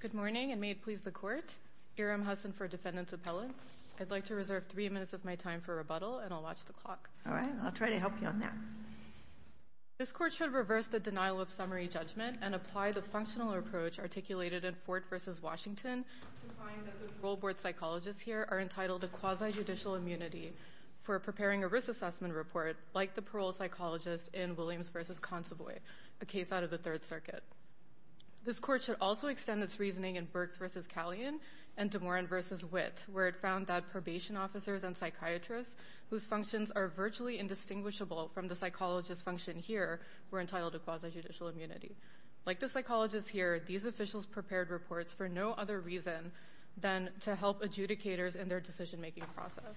Good morning, and may it please the Court, Erim Hassen for Defendant's Appellants. I'd like to reserve three minutes of my time for rebuttal, and I'll watch the clock. All right, I'll try to help you on that. This Court should reverse the denial of summary judgment and apply the functional approach articulated in Fort v. Washington to find that the role board psychologists here are entitled to quasi-judicial immunity for preparing a risk assessment report, like the parole psychologist in Williams v. Consovoy, a case out of the Third Circuit. This Court should also extend its reasoning in Burks v. Callion and DeMoran v. Witt, where it found that probation officers and psychiatrists, whose functions are virtually indistinguishable from the psychologist's function here, were entitled to quasi-judicial immunity. Like the psychologists here, these officials prepared reports for no other reason than to help adjudicators in their decision-making process.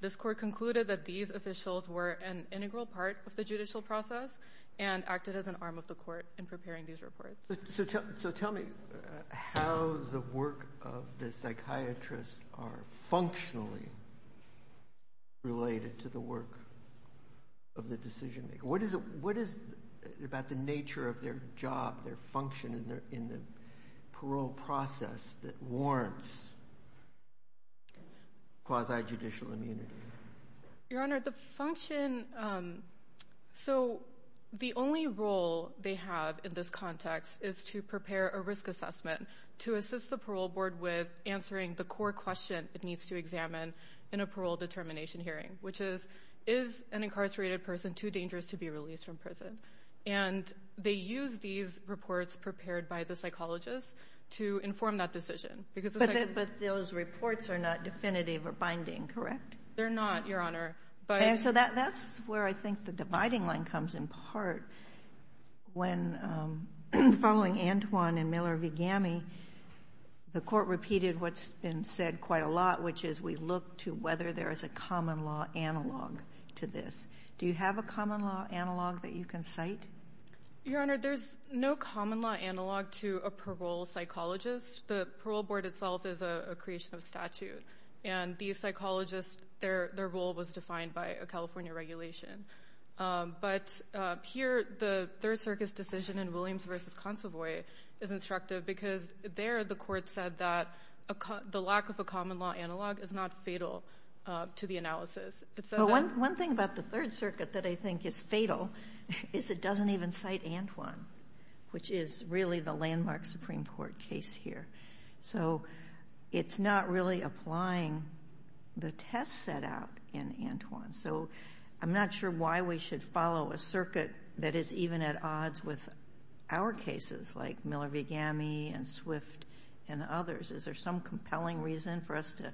This Court concluded that these officials were an integral part of the judicial process and acted as an arm of the Court in preparing these reports. So tell me how the work of the psychiatrists are functionally related to the work of the decision-maker. What is it about the nature of their job, their function in the parole process that warrants quasi-judicial immunity? Your Honor, the function—so the only role they have in this context is to prepare a risk assessment to assist the parole board with answering the core question it needs to examine in a parole determination hearing, which is, is an incarcerated person too dangerous to be released from prison? And they use these reports prepared by the psychologists to inform that decision. But those reports are not definitive or binding, correct? They're not, Your Honor. And so that's where I think the dividing line comes in part. When following Antoine and Miller v. Gami, the Court repeated what's been said quite a lot, which is we look to whether there is a common law analog to this. Do you have a common law analog that you can cite? Your Honor, there's no common law analog to a parole psychologist. The parole board itself is a creation of statute, and these psychologists, their role was defined by a California regulation. But here, the Third Circus decision in Williams v. Consovoy is instructive because there the Court said that the lack of a common law analog is not fatal to the analysis. But one thing about the Third Circuit that I think is fatal is it doesn't even cite Antoine, which is really the landmark Supreme Court case here. So it's not really applying the test set out in Antoine. So I'm not sure why we should follow a circuit that is even at odds with our cases, like Miller v. Gami and Swift and others. Is there some compelling reason for us to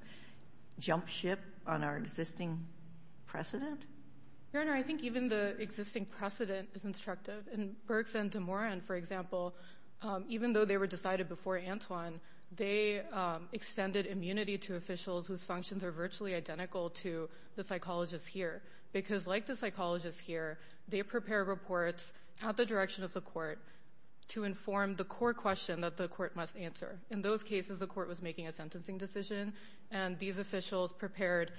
jump ship on our existing precedent? Your Honor, I think even the existing precedent is instructive. In Burks v. DeMoran, for example, even though they were decided before Antoine, they extended immunity to officials whose functions are virtually identical to the psychologists here because, like the psychologists here, they prepare reports at the direction of the Court to inform the core question that the Court must answer. In those cases, the Court was making a sentencing decision, and these officials prepared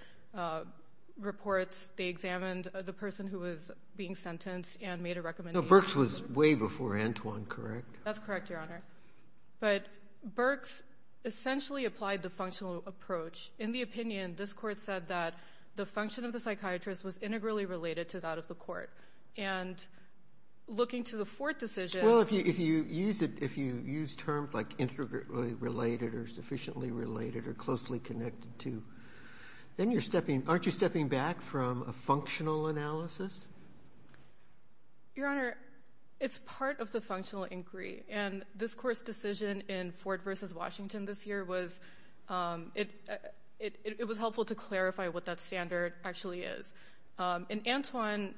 reports. They examined the person who was being sentenced and made a recommendation. No. Burks was way before Antoine, correct? That's correct, Your Honor. But Burks essentially applied the functional approach. In the opinion, this Court said that the function of the psychiatrist was integrally related to that of the Court. And looking to the fourth decision — Well, if you use terms like integrally related or sufficiently related or closely connected to, then aren't you stepping back from a functional analysis? Your Honor, it's part of the functional inquiry. And this Court's decision in Ford v. Washington this year, it was helpful to clarify what that standard actually is. In Antoine,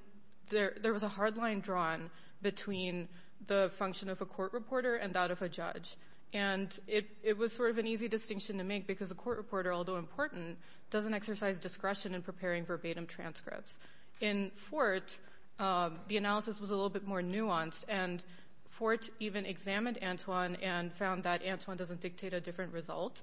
there was a hard line drawn between the function of a court reporter and that of a judge. And it was sort of an easy distinction to make because a court reporter, although important, doesn't exercise discretion in preparing verbatim transcripts. In Fort, the analysis was a little bit more nuanced, and Fort even examined Antoine and found that Antoine doesn't dictate a different result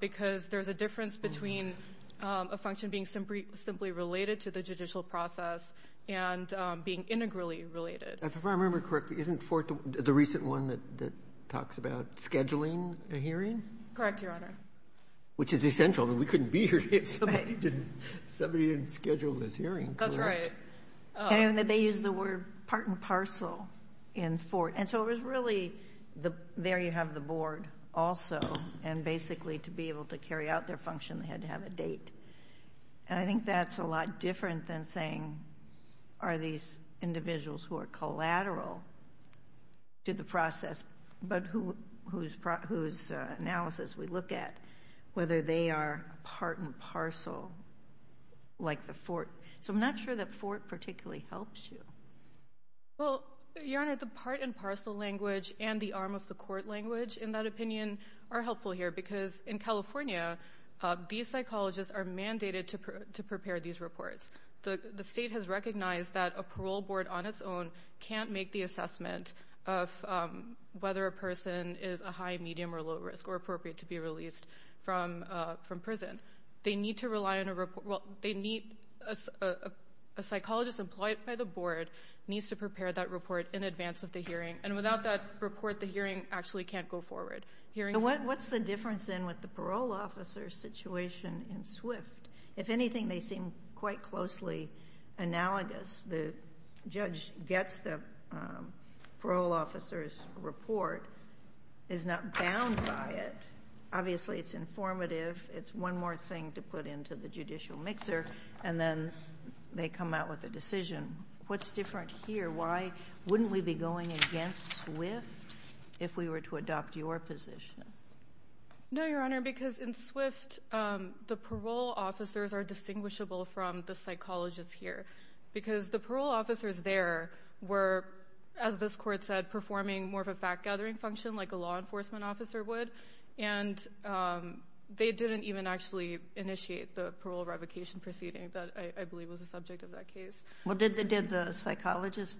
because there's a difference between a function being simply related to the judicial process and being integrally related. If I remember correctly, isn't Fort the recent one that talks about scheduling a hearing? Correct, Your Honor. Which is essential. We couldn't be here if somebody didn't schedule this hearing. That's right. And they used the word part and parcel in Fort. And I think that's a lot different than saying are these individuals who are collateral to the process, but whose analysis we look at, whether they are part and parcel like the Fort. So I'm not sure that Fort particularly helps you. Well, Your Honor, the part and parcel language and the arm of the court language, in that these psychologists are mandated to prepare these reports. The state has recognized that a parole board on its own can't make the assessment of whether a person is a high, medium, or low risk or appropriate to be released from prison. They need to rely on a report. A psychologist employed by the board needs to prepare that report in advance of the hearing. And without that report, the hearing actually can't go forward. What's the difference, then, with the parole officer's situation in Swift? If anything, they seem quite closely analogous. The judge gets the parole officer's report, is not bound by it. Obviously, it's informative. It's one more thing to put into the judicial mixer. And then they come out with a decision. What's different here? Why wouldn't we be going against Swift if we were to adopt your position? No, Your Honor, because in Swift, the parole officers are distinguishable from the psychologists here. Because the parole officers there were, as this court said, performing more of a fact-gathering function like a law enforcement officer would. And they didn't even actually initiate the parole revocation proceeding that I believe was the subject of that case. Well, did the psychologist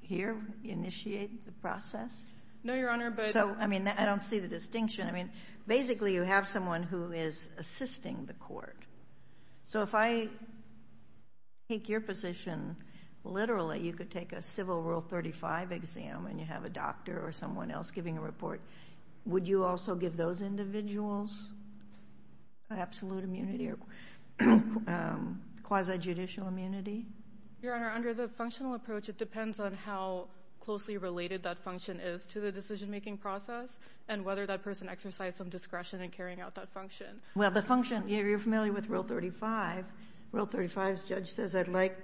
here initiate the process? No, Your Honor, but— So, I mean, I don't see the distinction. I mean, basically, you have someone who is assisting the court. So if I take your position, literally, you could take a Civil Rule 35 exam Would you also give those individuals absolute immunity or quasi-judicial immunity? Your Honor, under the functional approach, it depends on how closely related that function is to the decision-making process and whether that person exercised some discretion in carrying out that function. Well, the function—you're familiar with Rule 35. Rule 35's judge says, I'd like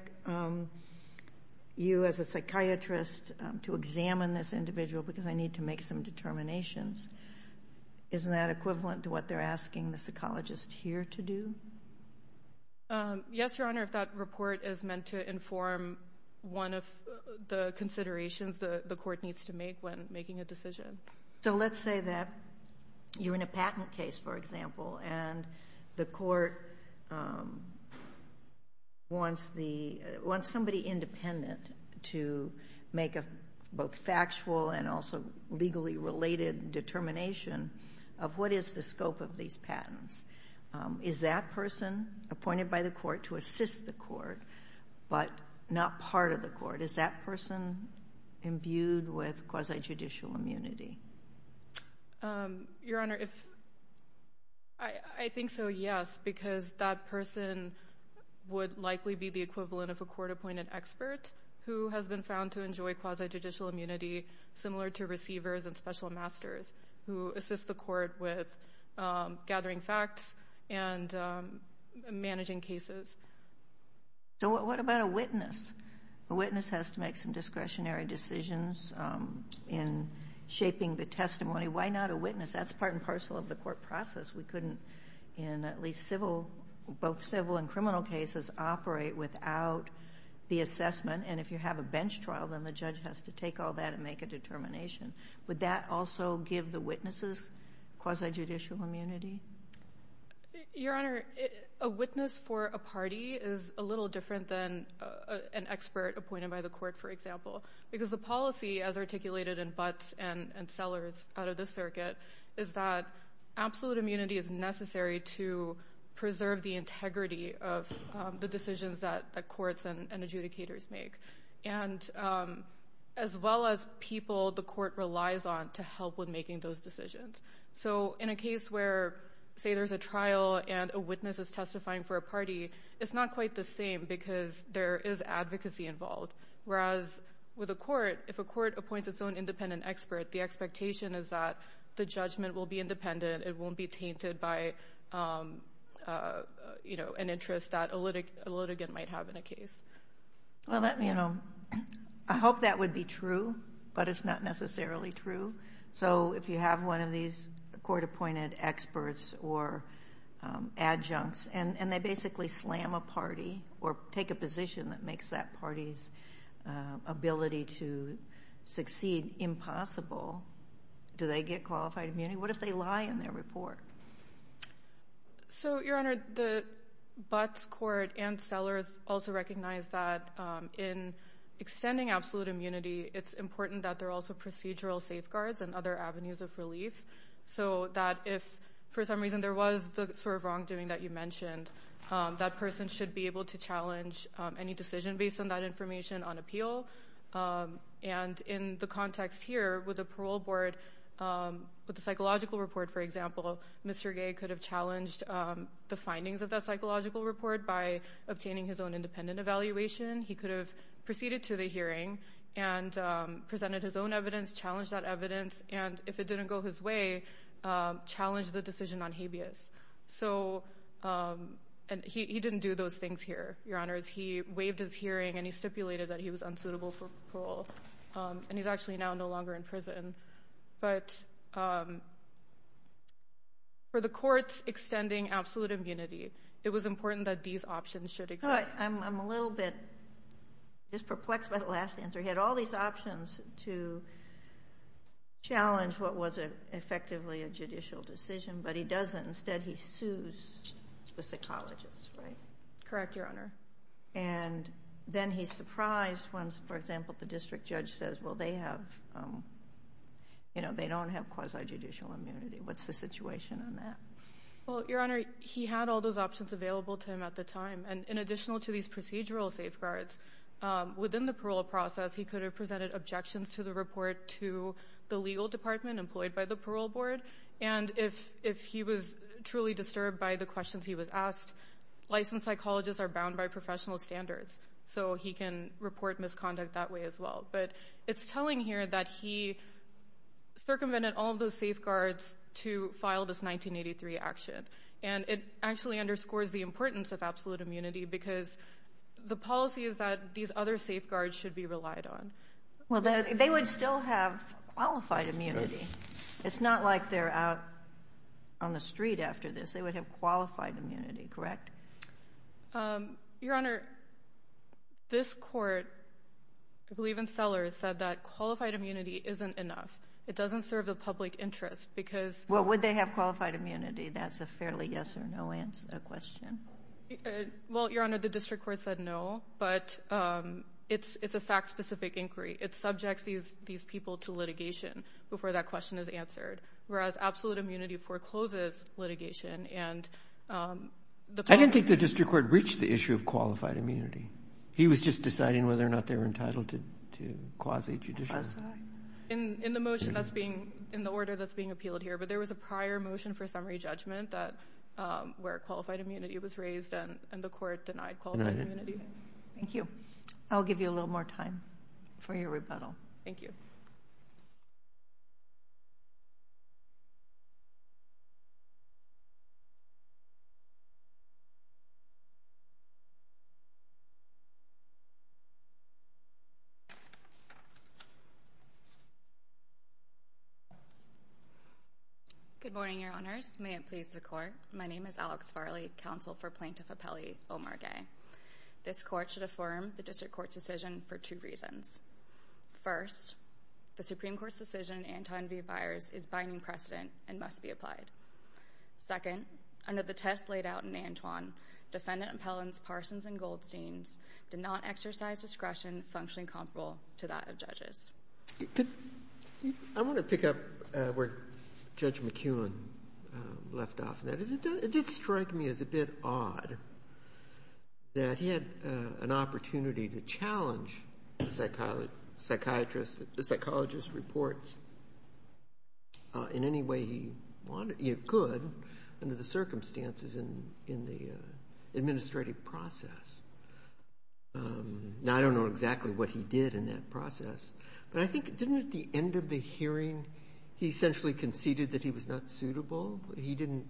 you as a psychiatrist to examine this individual because I need to make some determinations. Isn't that equivalent to what they're asking the psychologist here to do? Yes, Your Honor, if that report is meant to inform one of the considerations the court needs to make when making a decision. So let's say that you're in a patent case, for example, and the court wants the — wants somebody independent to make a both factual and also legally related determination of what is the scope of these patents. Is that person appointed by the court to assist the court, but not part of the court? Is that person imbued with quasi-judicial immunity? Your Honor, I think so, yes, because that person would likely be the equivalent of a court-appointed expert who has been found to enjoy quasi-judicial immunity, similar to receivers and special masters who assist the court with gathering facts and managing cases. So what about a witness? A witness has to make some discretionary decisions in shaping the testimony. Why not a witness? That's part and parcel of the court process. We couldn't, in at least civil — both civil and criminal cases, operate without the assessment. And if you have a bench trial, then the judge has to take all that and make a determination. Would that also give the witnesses quasi-judicial immunity? Your Honor, a witness for a party is a little different than an expert appointed by the court, for example, because the policy, as articulated in Butts and Sellers out of this circuit, is that absolute immunity is necessary to preserve the integrity of the decisions that courts and adjudicators make, as well as people the court relies on to help with making those decisions. So in a case where, say, there's a trial and a witness is testifying for a party, it's not quite the same because there is advocacy involved. Whereas with a court, if a court appoints its own independent expert, the expectation is that the judgment will be independent. It won't be tainted by, you know, an interest that a litigant might have in a case. Well, you know, I hope that would be true, but it's not necessarily true. So if you have one of these court-appointed experts or adjuncts and they basically slam a party or take a position that makes that party's ability to succeed impossible, do they get qualified immunity? What if they lie in their report? So, Your Honor, the Butts court and Sellers also recognize that in extending absolute immunity, it's important that there are also procedural safeguards and other avenues of relief, so that if for some reason there was the sort of wrongdoing that you mentioned, that person should be able to challenge any decision based on that information on appeal. And in the context here, with the parole board, with the psychological report, for example, Mr. Gay could have challenged the findings of that psychological report by obtaining his own independent evaluation. He could have proceeded to the hearing and presented his own evidence, challenged that evidence, and if it didn't go his way, challenged the decision on habeas. So he didn't do those things here, Your Honors. He waived his hearing and he stipulated that he was unsuitable for parole. And he's actually now no longer in prison. But for the courts extending absolute immunity, it was important that these options should exist. I'm a little bit just perplexed by the last answer. He had all these options to challenge what was effectively a judicial decision, but he doesn't. Instead, he sues the psychologist, right? Correct, Your Honor. And then he's surprised when, for example, the district judge says, well, they have, you know, they don't have quasi-judicial immunity. What's the situation on that? Well, Your Honor, he had all those options available to him at the time. And in addition to these procedural safeguards, within the parole process, he could have presented objections to the report to the legal department employed by the parole board. And if he was truly disturbed by the questions he was asked, licensed psychologists are bound by professional standards. So he can report misconduct that way as well. But it's telling here that he circumvented all of those safeguards to file this 1983 action. And it actually underscores the importance of absolute immunity, because the policy is that these other safeguards should be relied on. Well, they would still have qualified immunity. It's not like they're out on the street after this. They would have qualified immunity, correct? Your Honor, this court, I believe in Sellers, said that qualified immunity isn't enough. It doesn't serve the public interest because— But would they have qualified immunity? That's a fairly yes-or-no question. Well, Your Honor, the district court said no, but it's a fact-specific inquiry. It subjects these people to litigation before that question is answered, whereas absolute immunity forecloses litigation. I didn't think the district court reached the issue of qualified immunity. He was just deciding whether or not they were entitled to quasi-judicial. In the order that's being appealed here, there was a prior motion for summary judgment where qualified immunity was raised, and the court denied qualified immunity. Thank you. I'll give you a little more time for your rebuttal. Thank you. Good morning, Your Honors. May it please the Court. My name is Alex Farley, counsel for Plaintiff Appellee Omar Gay. This court should affirm the district court's decision for two reasons. First, the Supreme Court's decision in Antoine v. Byers is binding precedent and must be applied. Second, under the test laid out in Antoine, defendant appellants Parsons and Goldsteins did not exercise discretion functioning comparable to that of judges. I want to pick up where Judge McKeown left off. It did strike me as a bit odd that he had an opportunity to challenge the psychologist's reports in any way he could under the circumstances in the administrative process. Now, I don't know exactly what he did in that process, but I think, didn't at the end of the hearing, he essentially conceded that he was not suitable? He didn't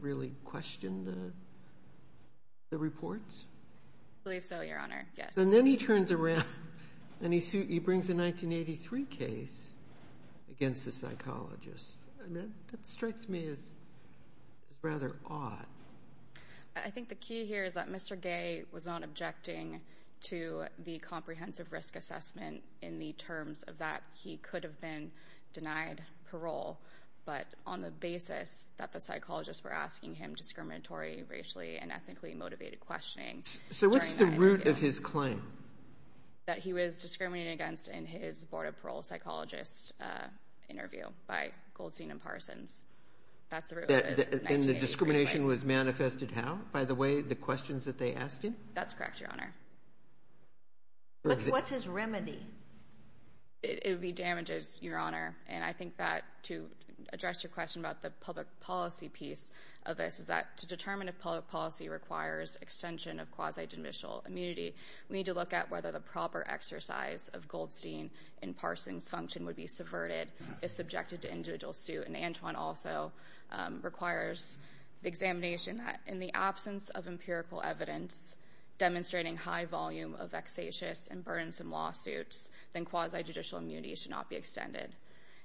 really question the reports? I believe so, Your Honor. Yes. And then he turns around and he brings a 1983 case against the psychologist. That strikes me as rather odd. I think the key here is that Mr. Gay was not objecting to the comprehensive risk assessment in the terms of that he could have been denied parole, but on the basis that the psychologists were asking him discriminatory racially and ethically motivated questioning. So what's the root of his claim? That he was discriminated against in his board of parole psychologist interview by Goldstein and Parsons. And the discrimination was manifested how, by the way, the questions that they asked him? That's correct, Your Honor. What's his remedy? It would be damages, Your Honor, and I think that to address your question about the public policy piece of this is that to determine if public policy requires extension of quasi-judicial immunity, we need to look at whether the proper exercise of Goldstein and Parsons' function would be subverted if subjected to individual suit. And Antoine also requires the examination that in the absence of empirical evidence demonstrating high volume of vexatious and burdensome lawsuits, then quasi-judicial immunity should not be extended.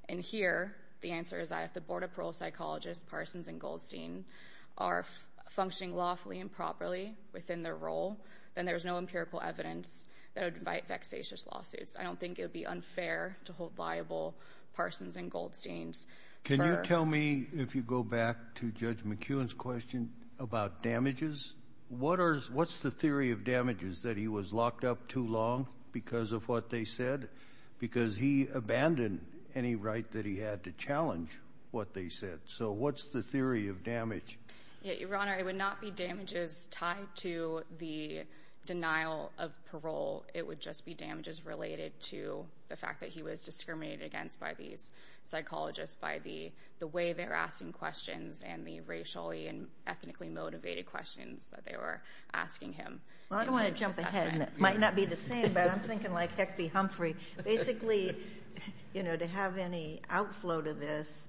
And here the answer is that if the board of parole psychologists, Parsons and Goldstein, are functioning lawfully and properly within their role, then there is no empirical evidence that would invite vexatious lawsuits. I don't think it would be unfair to hold liable Parsons and Goldsteins. Can you tell me, if you go back to Judge McEwen's question about damages, what's the theory of damages, that he was locked up too long because of what they said? Because he abandoned any right that he had to challenge what they said. So what's the theory of damage? Your Honor, it would not be damages tied to the denial of parole. It would just be damages related to the fact that he was discriminated against by these psychologists, by the way they're asking questions and the racially and ethnically motivated questions that they were asking him. Well, I don't want to jump ahead, and it might not be the same, but I'm thinking like Heck B. Humphrey. Basically, to have any outflow to this,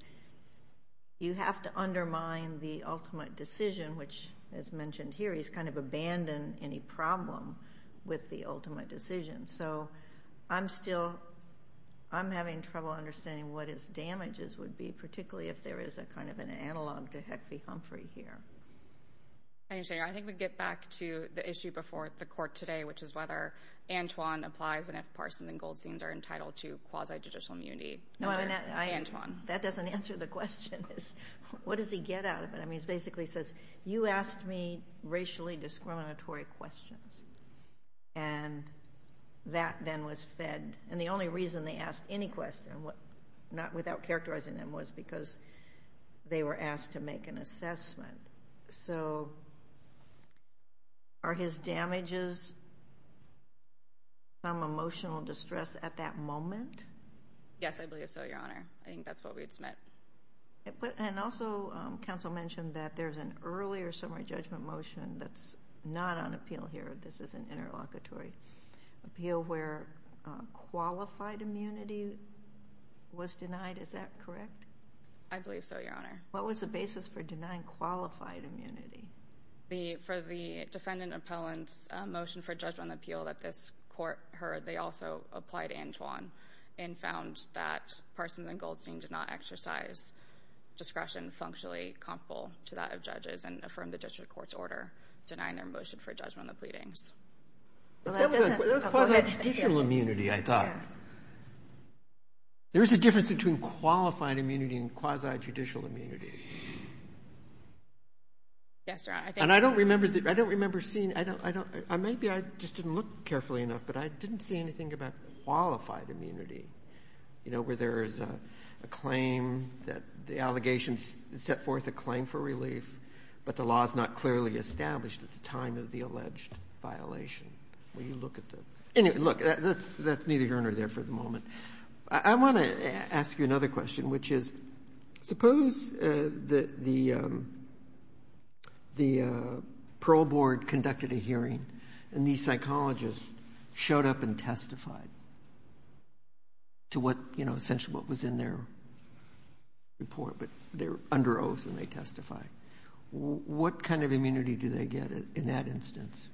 you have to undermine the ultimate decision, which, as mentioned here, he's kind of abandoned any problem with the ultimate decision. So I'm still having trouble understanding what his damages would be, particularly if there is a kind of an analog to Heck B. Humphrey here. I think we get back to the issue before the court today, which is whether Antwon applies and if Parsons and Goldsteins are entitled to quasi-judicial immunity under Antwon. That doesn't answer the question. What does he get out of it? I mean, it basically says, you asked me racially discriminatory questions, and that then was fed. And the only reason they asked any question, not without characterizing them, was because they were asked to make an assessment. So are his damages some emotional distress at that moment? Yes, I believe so, Your Honor. I think that's what we would submit. And also, counsel mentioned that there's an earlier summary judgment motion that's not on appeal here. This is an interlocutory appeal where qualified immunity was denied. Is that correct? I believe so, Your Honor. What was the basis for denying qualified immunity? For the defendant appellant's motion for judgment on the appeal that this court heard, they also applied Antwon and found that Parsons and Goldstein did not exercise discretion functionally comparable to that of judges and affirmed the district court's order denying their motion for judgment on the pleadings. That was quasi-judicial immunity, I thought. There is a difference between qualified immunity and quasi-judicial immunity. Yes, Your Honor. And I don't remember seeing or maybe I just didn't look carefully enough, but I didn't see anything about qualified immunity, you know, where there is a claim that the allegations set forth a claim for relief, but the law is not clearly established at the time of the alleged violation. Will you look at the ñ anyway, look, that's needed, Your Honor, there for the moment. I want to ask you another question, which is, suppose the parole board conducted a hearing and these psychologists showed up and testified to what, you know, essentially what was in their report, but they're under oath and they testified. What kind of immunity do they get in that instance?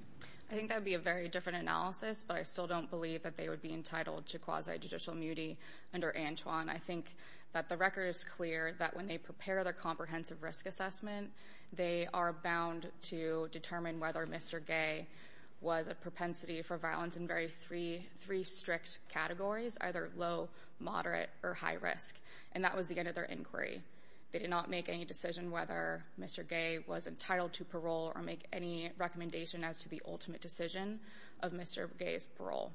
I think that would be a very different analysis, but I still don't believe that they would be entitled to quasi-judicial immunity under Antwon. I think that the record is clear that when they prepare their comprehensive risk assessment, they are bound to determine whether Mr. Gay was a propensity for violence in very three strict categories, either low, moderate, or high risk, and that was the end of their inquiry. They did not make any decision whether Mr. Gay was entitled to parole or make any recommendation as to the ultimate decision of Mr. Gay's parole.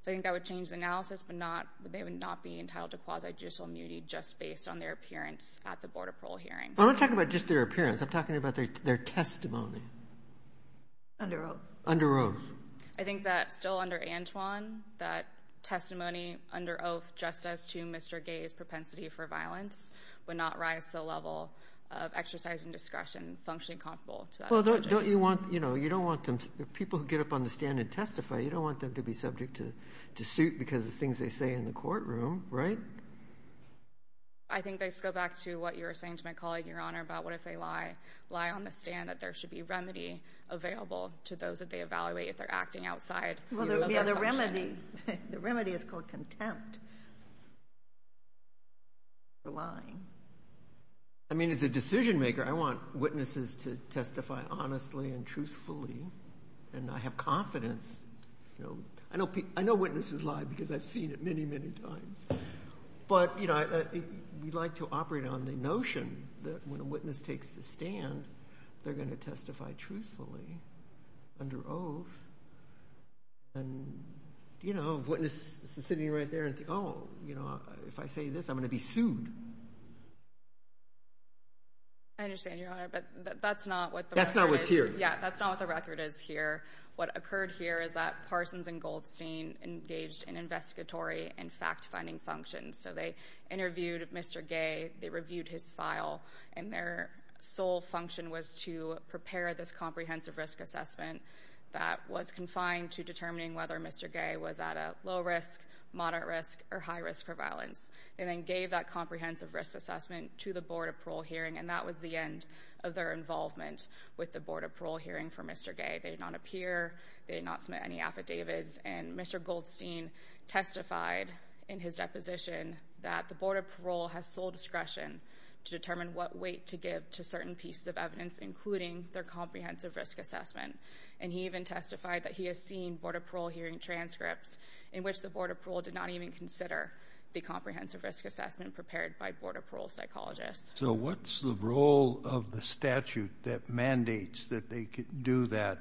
So I think that would change the analysis, but not ñ they would not be entitled to quasi-judicial immunity just based on their appearance at the Board of Parole hearing. I'm not talking about just their appearance. I'm talking about their testimony. Under oath. Under oath. I think that still under Antwon, that testimony under oath just as to Mr. Gay's propensity for violence would not rise to the level of exercise and discretion functionally comparable to that of judges. Well, don't you want ñ you know, you don't want them ñ people who get up on the stand and testify, you don't want them to be subject to suit because of things they say in the courtroom, right? I think they go back to what you were saying to my colleague, Your Honor, about what if they lie on the stand, that there should be remedy available to those that they evaluate if they're acting outside of their function. Yeah, the remedy is called contempt for lying. I mean, as a decision-maker, I want witnesses to testify honestly and truthfully, and I have confidence. I know witnesses lie because I've seen it many, many times. But, you know, we like to operate on the notion that when a witness takes the stand, they're going to testify truthfully under oath. And, you know, a witness sitting right there and thinking, oh, you know, if I say this, I'm going to be sued. I understand, Your Honor, but that's not what the record is. That's not what's here. Yeah, that's not what the record is here. What occurred here is that Parsons and Goldstein engaged in investigatory and fact-finding functions. So they interviewed Mr. Gay. They reviewed his file. And their sole function was to prepare this comprehensive risk assessment that was confined to determining whether Mr. Gay was at a low risk, moderate risk, or high risk for violence. They then gave that comprehensive risk assessment to the Board of Parole hearing, and that was the end of their involvement with the Board of Parole hearing for Mr. Gay. They did not appear. They did not submit any affidavits. And Mr. Goldstein testified in his deposition that the Board of Parole has sole discretion to determine what weight to give to certain pieces of evidence, including their comprehensive risk assessment. And he even testified that he has seen Board of Parole hearing transcripts in which the Board of Parole did not even consider the comprehensive risk assessment prepared by Board of Parole psychologists. So what's the role of the statute that mandates that they do that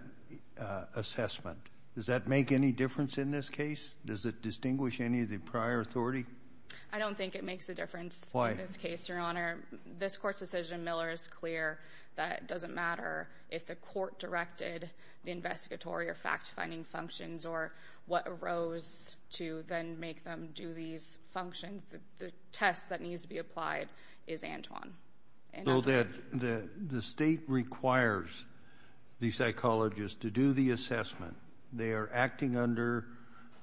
assessment? Does that make any difference in this case? Does it distinguish any of the prior authority? I don't think it makes a difference in this case, Your Honor. This Court's decision, Miller, is clear that it doesn't matter if the court directed the investigatory or fact-finding functions or what arose to then make them do these functions. The test that needs to be applied is Antwon. So the State requires the psychologists to do the assessment. They are acting under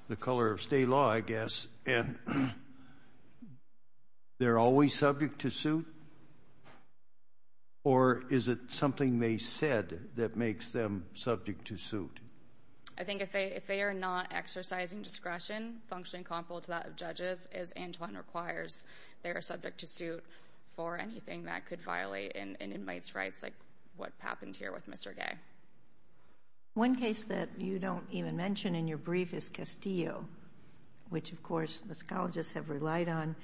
the color of state law, I guess, and they're always subject to suit? Or is it something they said that makes them subject to suit? I think if they are not exercising discretion, functioning comparable to that of judges, as Antwon requires, they are subject to suit for anything that could violate an inmate's rights like what happened here with Mr. Gay. One case that you don't even mention in your brief is Castillo, which, of course, the psychologists have relied on.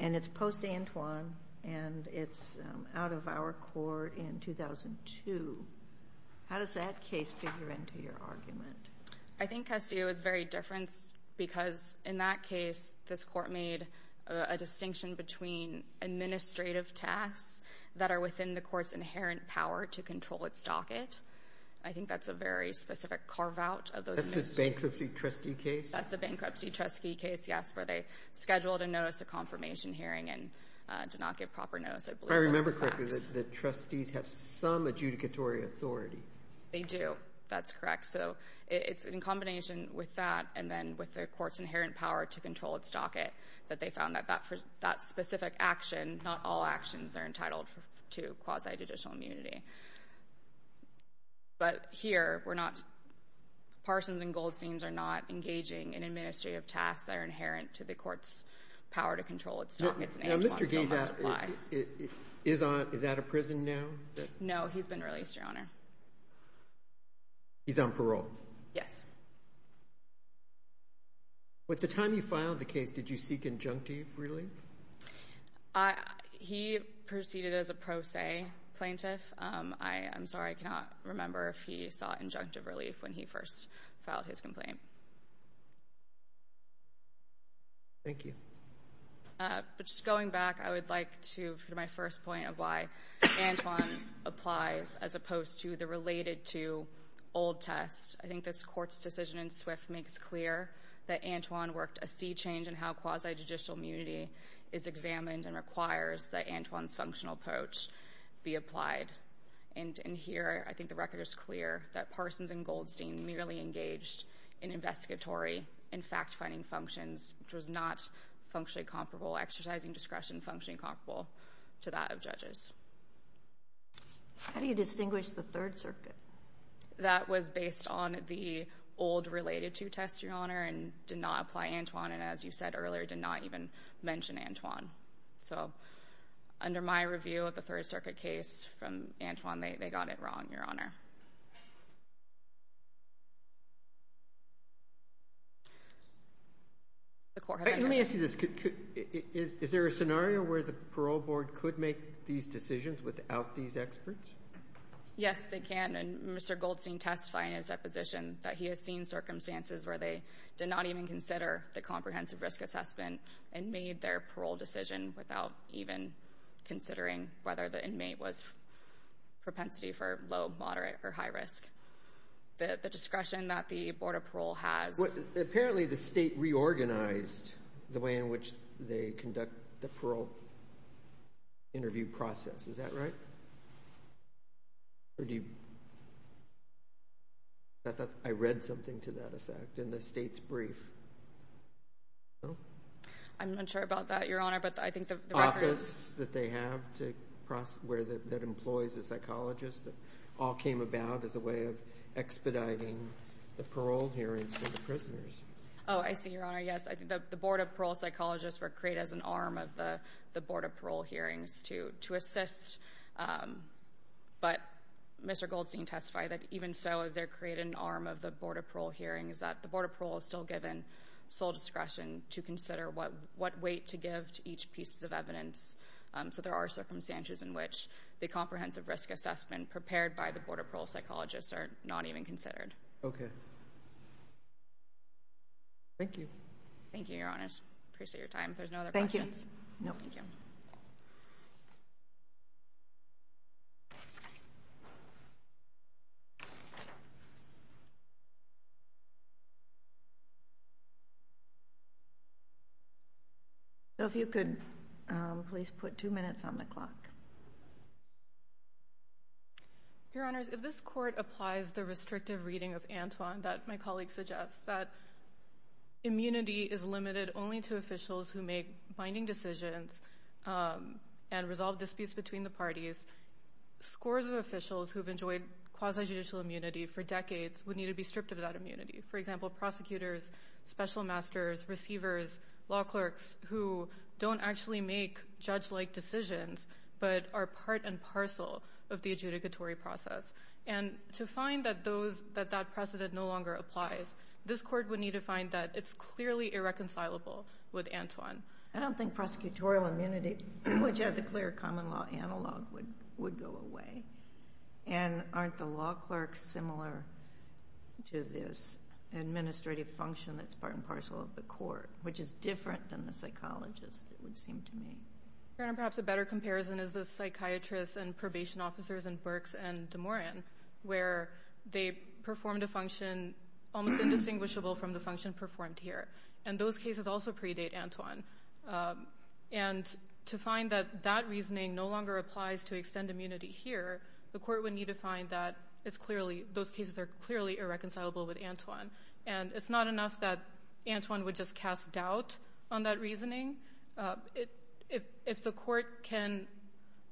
And it's post-Antwon, and it's out of our court in 2002. How does that case figure into your argument? I think Castillo is very different because, in that case, this court made a distinction between administrative tasks that are within the court's inherent power to control its docket. I think that's a very specific carve-out of those tasks. That's the bankruptcy trustee case? That's the bankruptcy trustee case, yes, where they scheduled a notice, a confirmation hearing, and did not give proper notice. I believe that's the facts. I remember correctly that trustees have some adjudicatory authority. They do. That's correct. So it's in combination with that and then with the court's inherent power to control its docket that they found that that specific action, not all actions are entitled to quasi-judicial immunity. But here, we're not – Parsons and Goldsteins are not engaging in administrative tasks that are inherent to the court's power to control its docket. Now, Mr. Gay, is that a prison now? No, he's been released, Your Honor. He's on parole? Yes. Well, at the time you filed the case, did you seek injunctive relief? He proceeded as a pro se plaintiff. I'm sorry, I cannot remember if he sought injunctive relief when he first filed his complaint. Thank you. But just going back, I would like to – for my first point of why Antwon applies as opposed to the related to old test, I think this court's decision in Swift makes clear that Antwon worked a sea change in how quasi-judicial immunity is examined and requires that Antwon's functional approach be applied. And in here, I think the record is clear that Parsons and Goldstein merely engaged in investigatory and fact-finding functions, which was not functionally comparable, exercising discretion functionally comparable to that of judges. How do you distinguish the Third Circuit? That was based on the old related to test, Your Honor, and did not apply Antwon, and as you said earlier, did not even mention Antwon. So under my review of the Third Circuit case from Antwon, they got it wrong, Your Honor. Let me ask you this. Is there a scenario where the parole board could make these decisions without these experts? Yes, they can. And Mr. Goldstein testified in his deposition that he has seen circumstances where they did not even consider the comprehensive risk assessment and made their parole decision without even considering whether the inmate was propensity for low, moderate, or high risk. The discretion that the Board of Parole has. Apparently, the state reorganized the way in which they conduct the parole interview process. Is that right? Or do you... I thought I read something to that effect in the state's brief. I'm not sure about that, Your Honor, but I think the reference... all came about as a way of expediting the parole hearings for the prisoners. Oh, I see, Your Honor, yes. The Board of Parole psychologists were created as an arm of the Board of Parole hearings to assist. But Mr. Goldstein testified that even so, they're created an arm of the Board of Parole hearings that the Board of Parole is still given sole discretion to consider what weight to give to each piece of evidence. So there are circumstances in which the comprehensive risk assessment prepared by the Board of Parole psychologists are not even considered. Okay. Thank you. Thank you, Your Honor. I appreciate your time. If there's no other questions... Thank you. No, thank you. So if you could please put two minutes on the clock. Your Honors, if this Court applies the restrictive reading of Antoine that my colleague suggests, that immunity is limited only to officials who make binding decisions and resolve disputes between the parties, scores of officials who've enjoyed quasi-judicial immunity for decades would need to be stripped of that immunity. For example, prosecutors, special masters, receivers, law clerks, who don't actually make judge-like decisions, but are part and parcel of the adjudicatory process. And to find that that precedent no longer applies, this Court would need to find that it's clearly irreconcilable with Antoine. I don't think prosecutorial immunity, which has a clear common law analog, would go away. And aren't the law clerks similar to this administrative function that's part and parcel of the court, which is different than the psychologists, it would seem to me. Perhaps a better comparison is the psychiatrists and probation officers in Berks and DeMoran, where they performed a function almost indistinguishable from the function performed here. And those cases also predate Antoine. And to find that that reasoning no longer applies to extend immunity here, the Court would need to find that those cases are clearly irreconcilable with Antoine. And it's not enough that Antoine would just cast doubt on that reasoning. If the Court can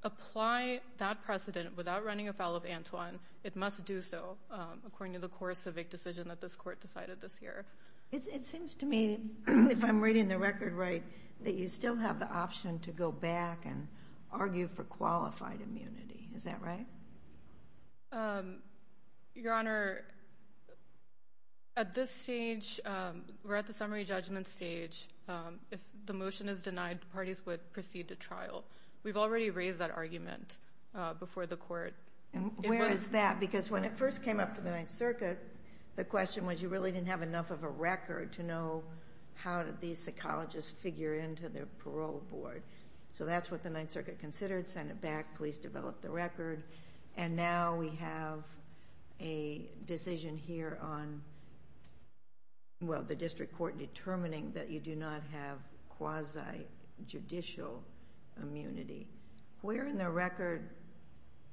apply that precedent without running afoul of Antoine, it must do so according to the core civic decision that this Court decided this year. It seems to me, if I'm reading the record right, that you still have the option to go back and argue for qualified immunity. Is that right? Your Honor, at this stage, we're at the summary judgment stage. If the motion is denied, parties would proceed to trial. We've already raised that argument before the Court. Where is that? Because when it first came up to the Ninth Circuit, the question was you really didn't have enough of a record to know how did these psychologists figure into their parole board. So that's what the Ninth Circuit considered. Sent it back. Police developed the record. And now we have a decision here on the district court determining that you do not have quasi-judicial immunity. Where in the record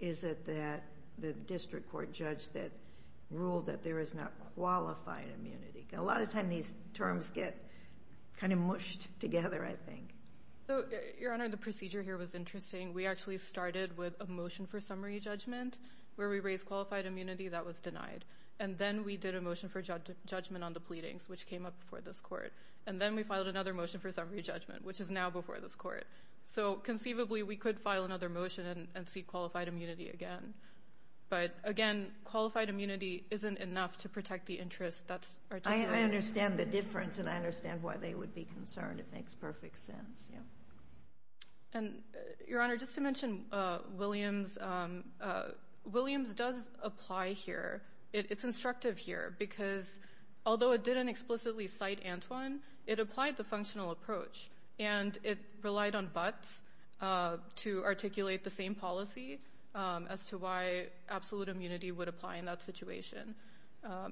is it that the district court judge that ruled that there is not qualified immunity? A lot of times these terms get kind of mushed together, I think. Your Honor, the procedure here was interesting. We actually started with a motion for summary judgment where we raised qualified immunity that was denied. And then we did a motion for judgment on the pleadings, which came up before this Court. And then we filed another motion for summary judgment, which is now before this Court. So conceivably we could file another motion and see qualified immunity again. But, again, qualified immunity isn't enough to protect the interests. I understand the difference, and I understand why they would be concerned. It makes perfect sense. Your Honor, just to mention Williams. Williams does apply here. It's instructive here because although it didn't explicitly cite Antwon, it applied the functional approach. And it relied on Butts to articulate the same policy as to why absolute immunity would apply in that situation.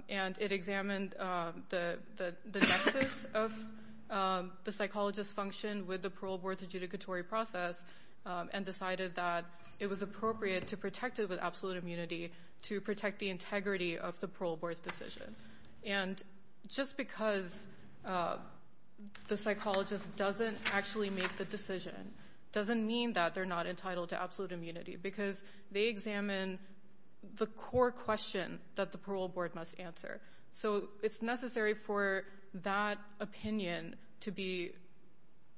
And it examined the nexus of the psychologist's function with the parole board's adjudicatory process and decided that it was appropriate to protect it with absolute immunity to protect the integrity of the parole board's decision. And just because the psychologist doesn't actually make the decision doesn't mean that they're not entitled to absolute immunity because they examine the core question that the parole board must answer. So it's necessary for that opinion to be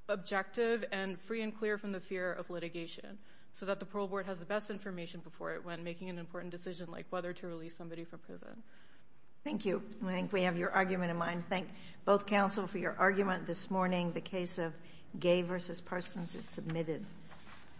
objective and free and clear from the fear of litigation so that the parole board has the best information before it when making an important decision like whether to release somebody from prison. Thank you. I think we have your argument in mind. Thank both counsel for your argument this morning. The case of Gaye v. Parsons is submitted.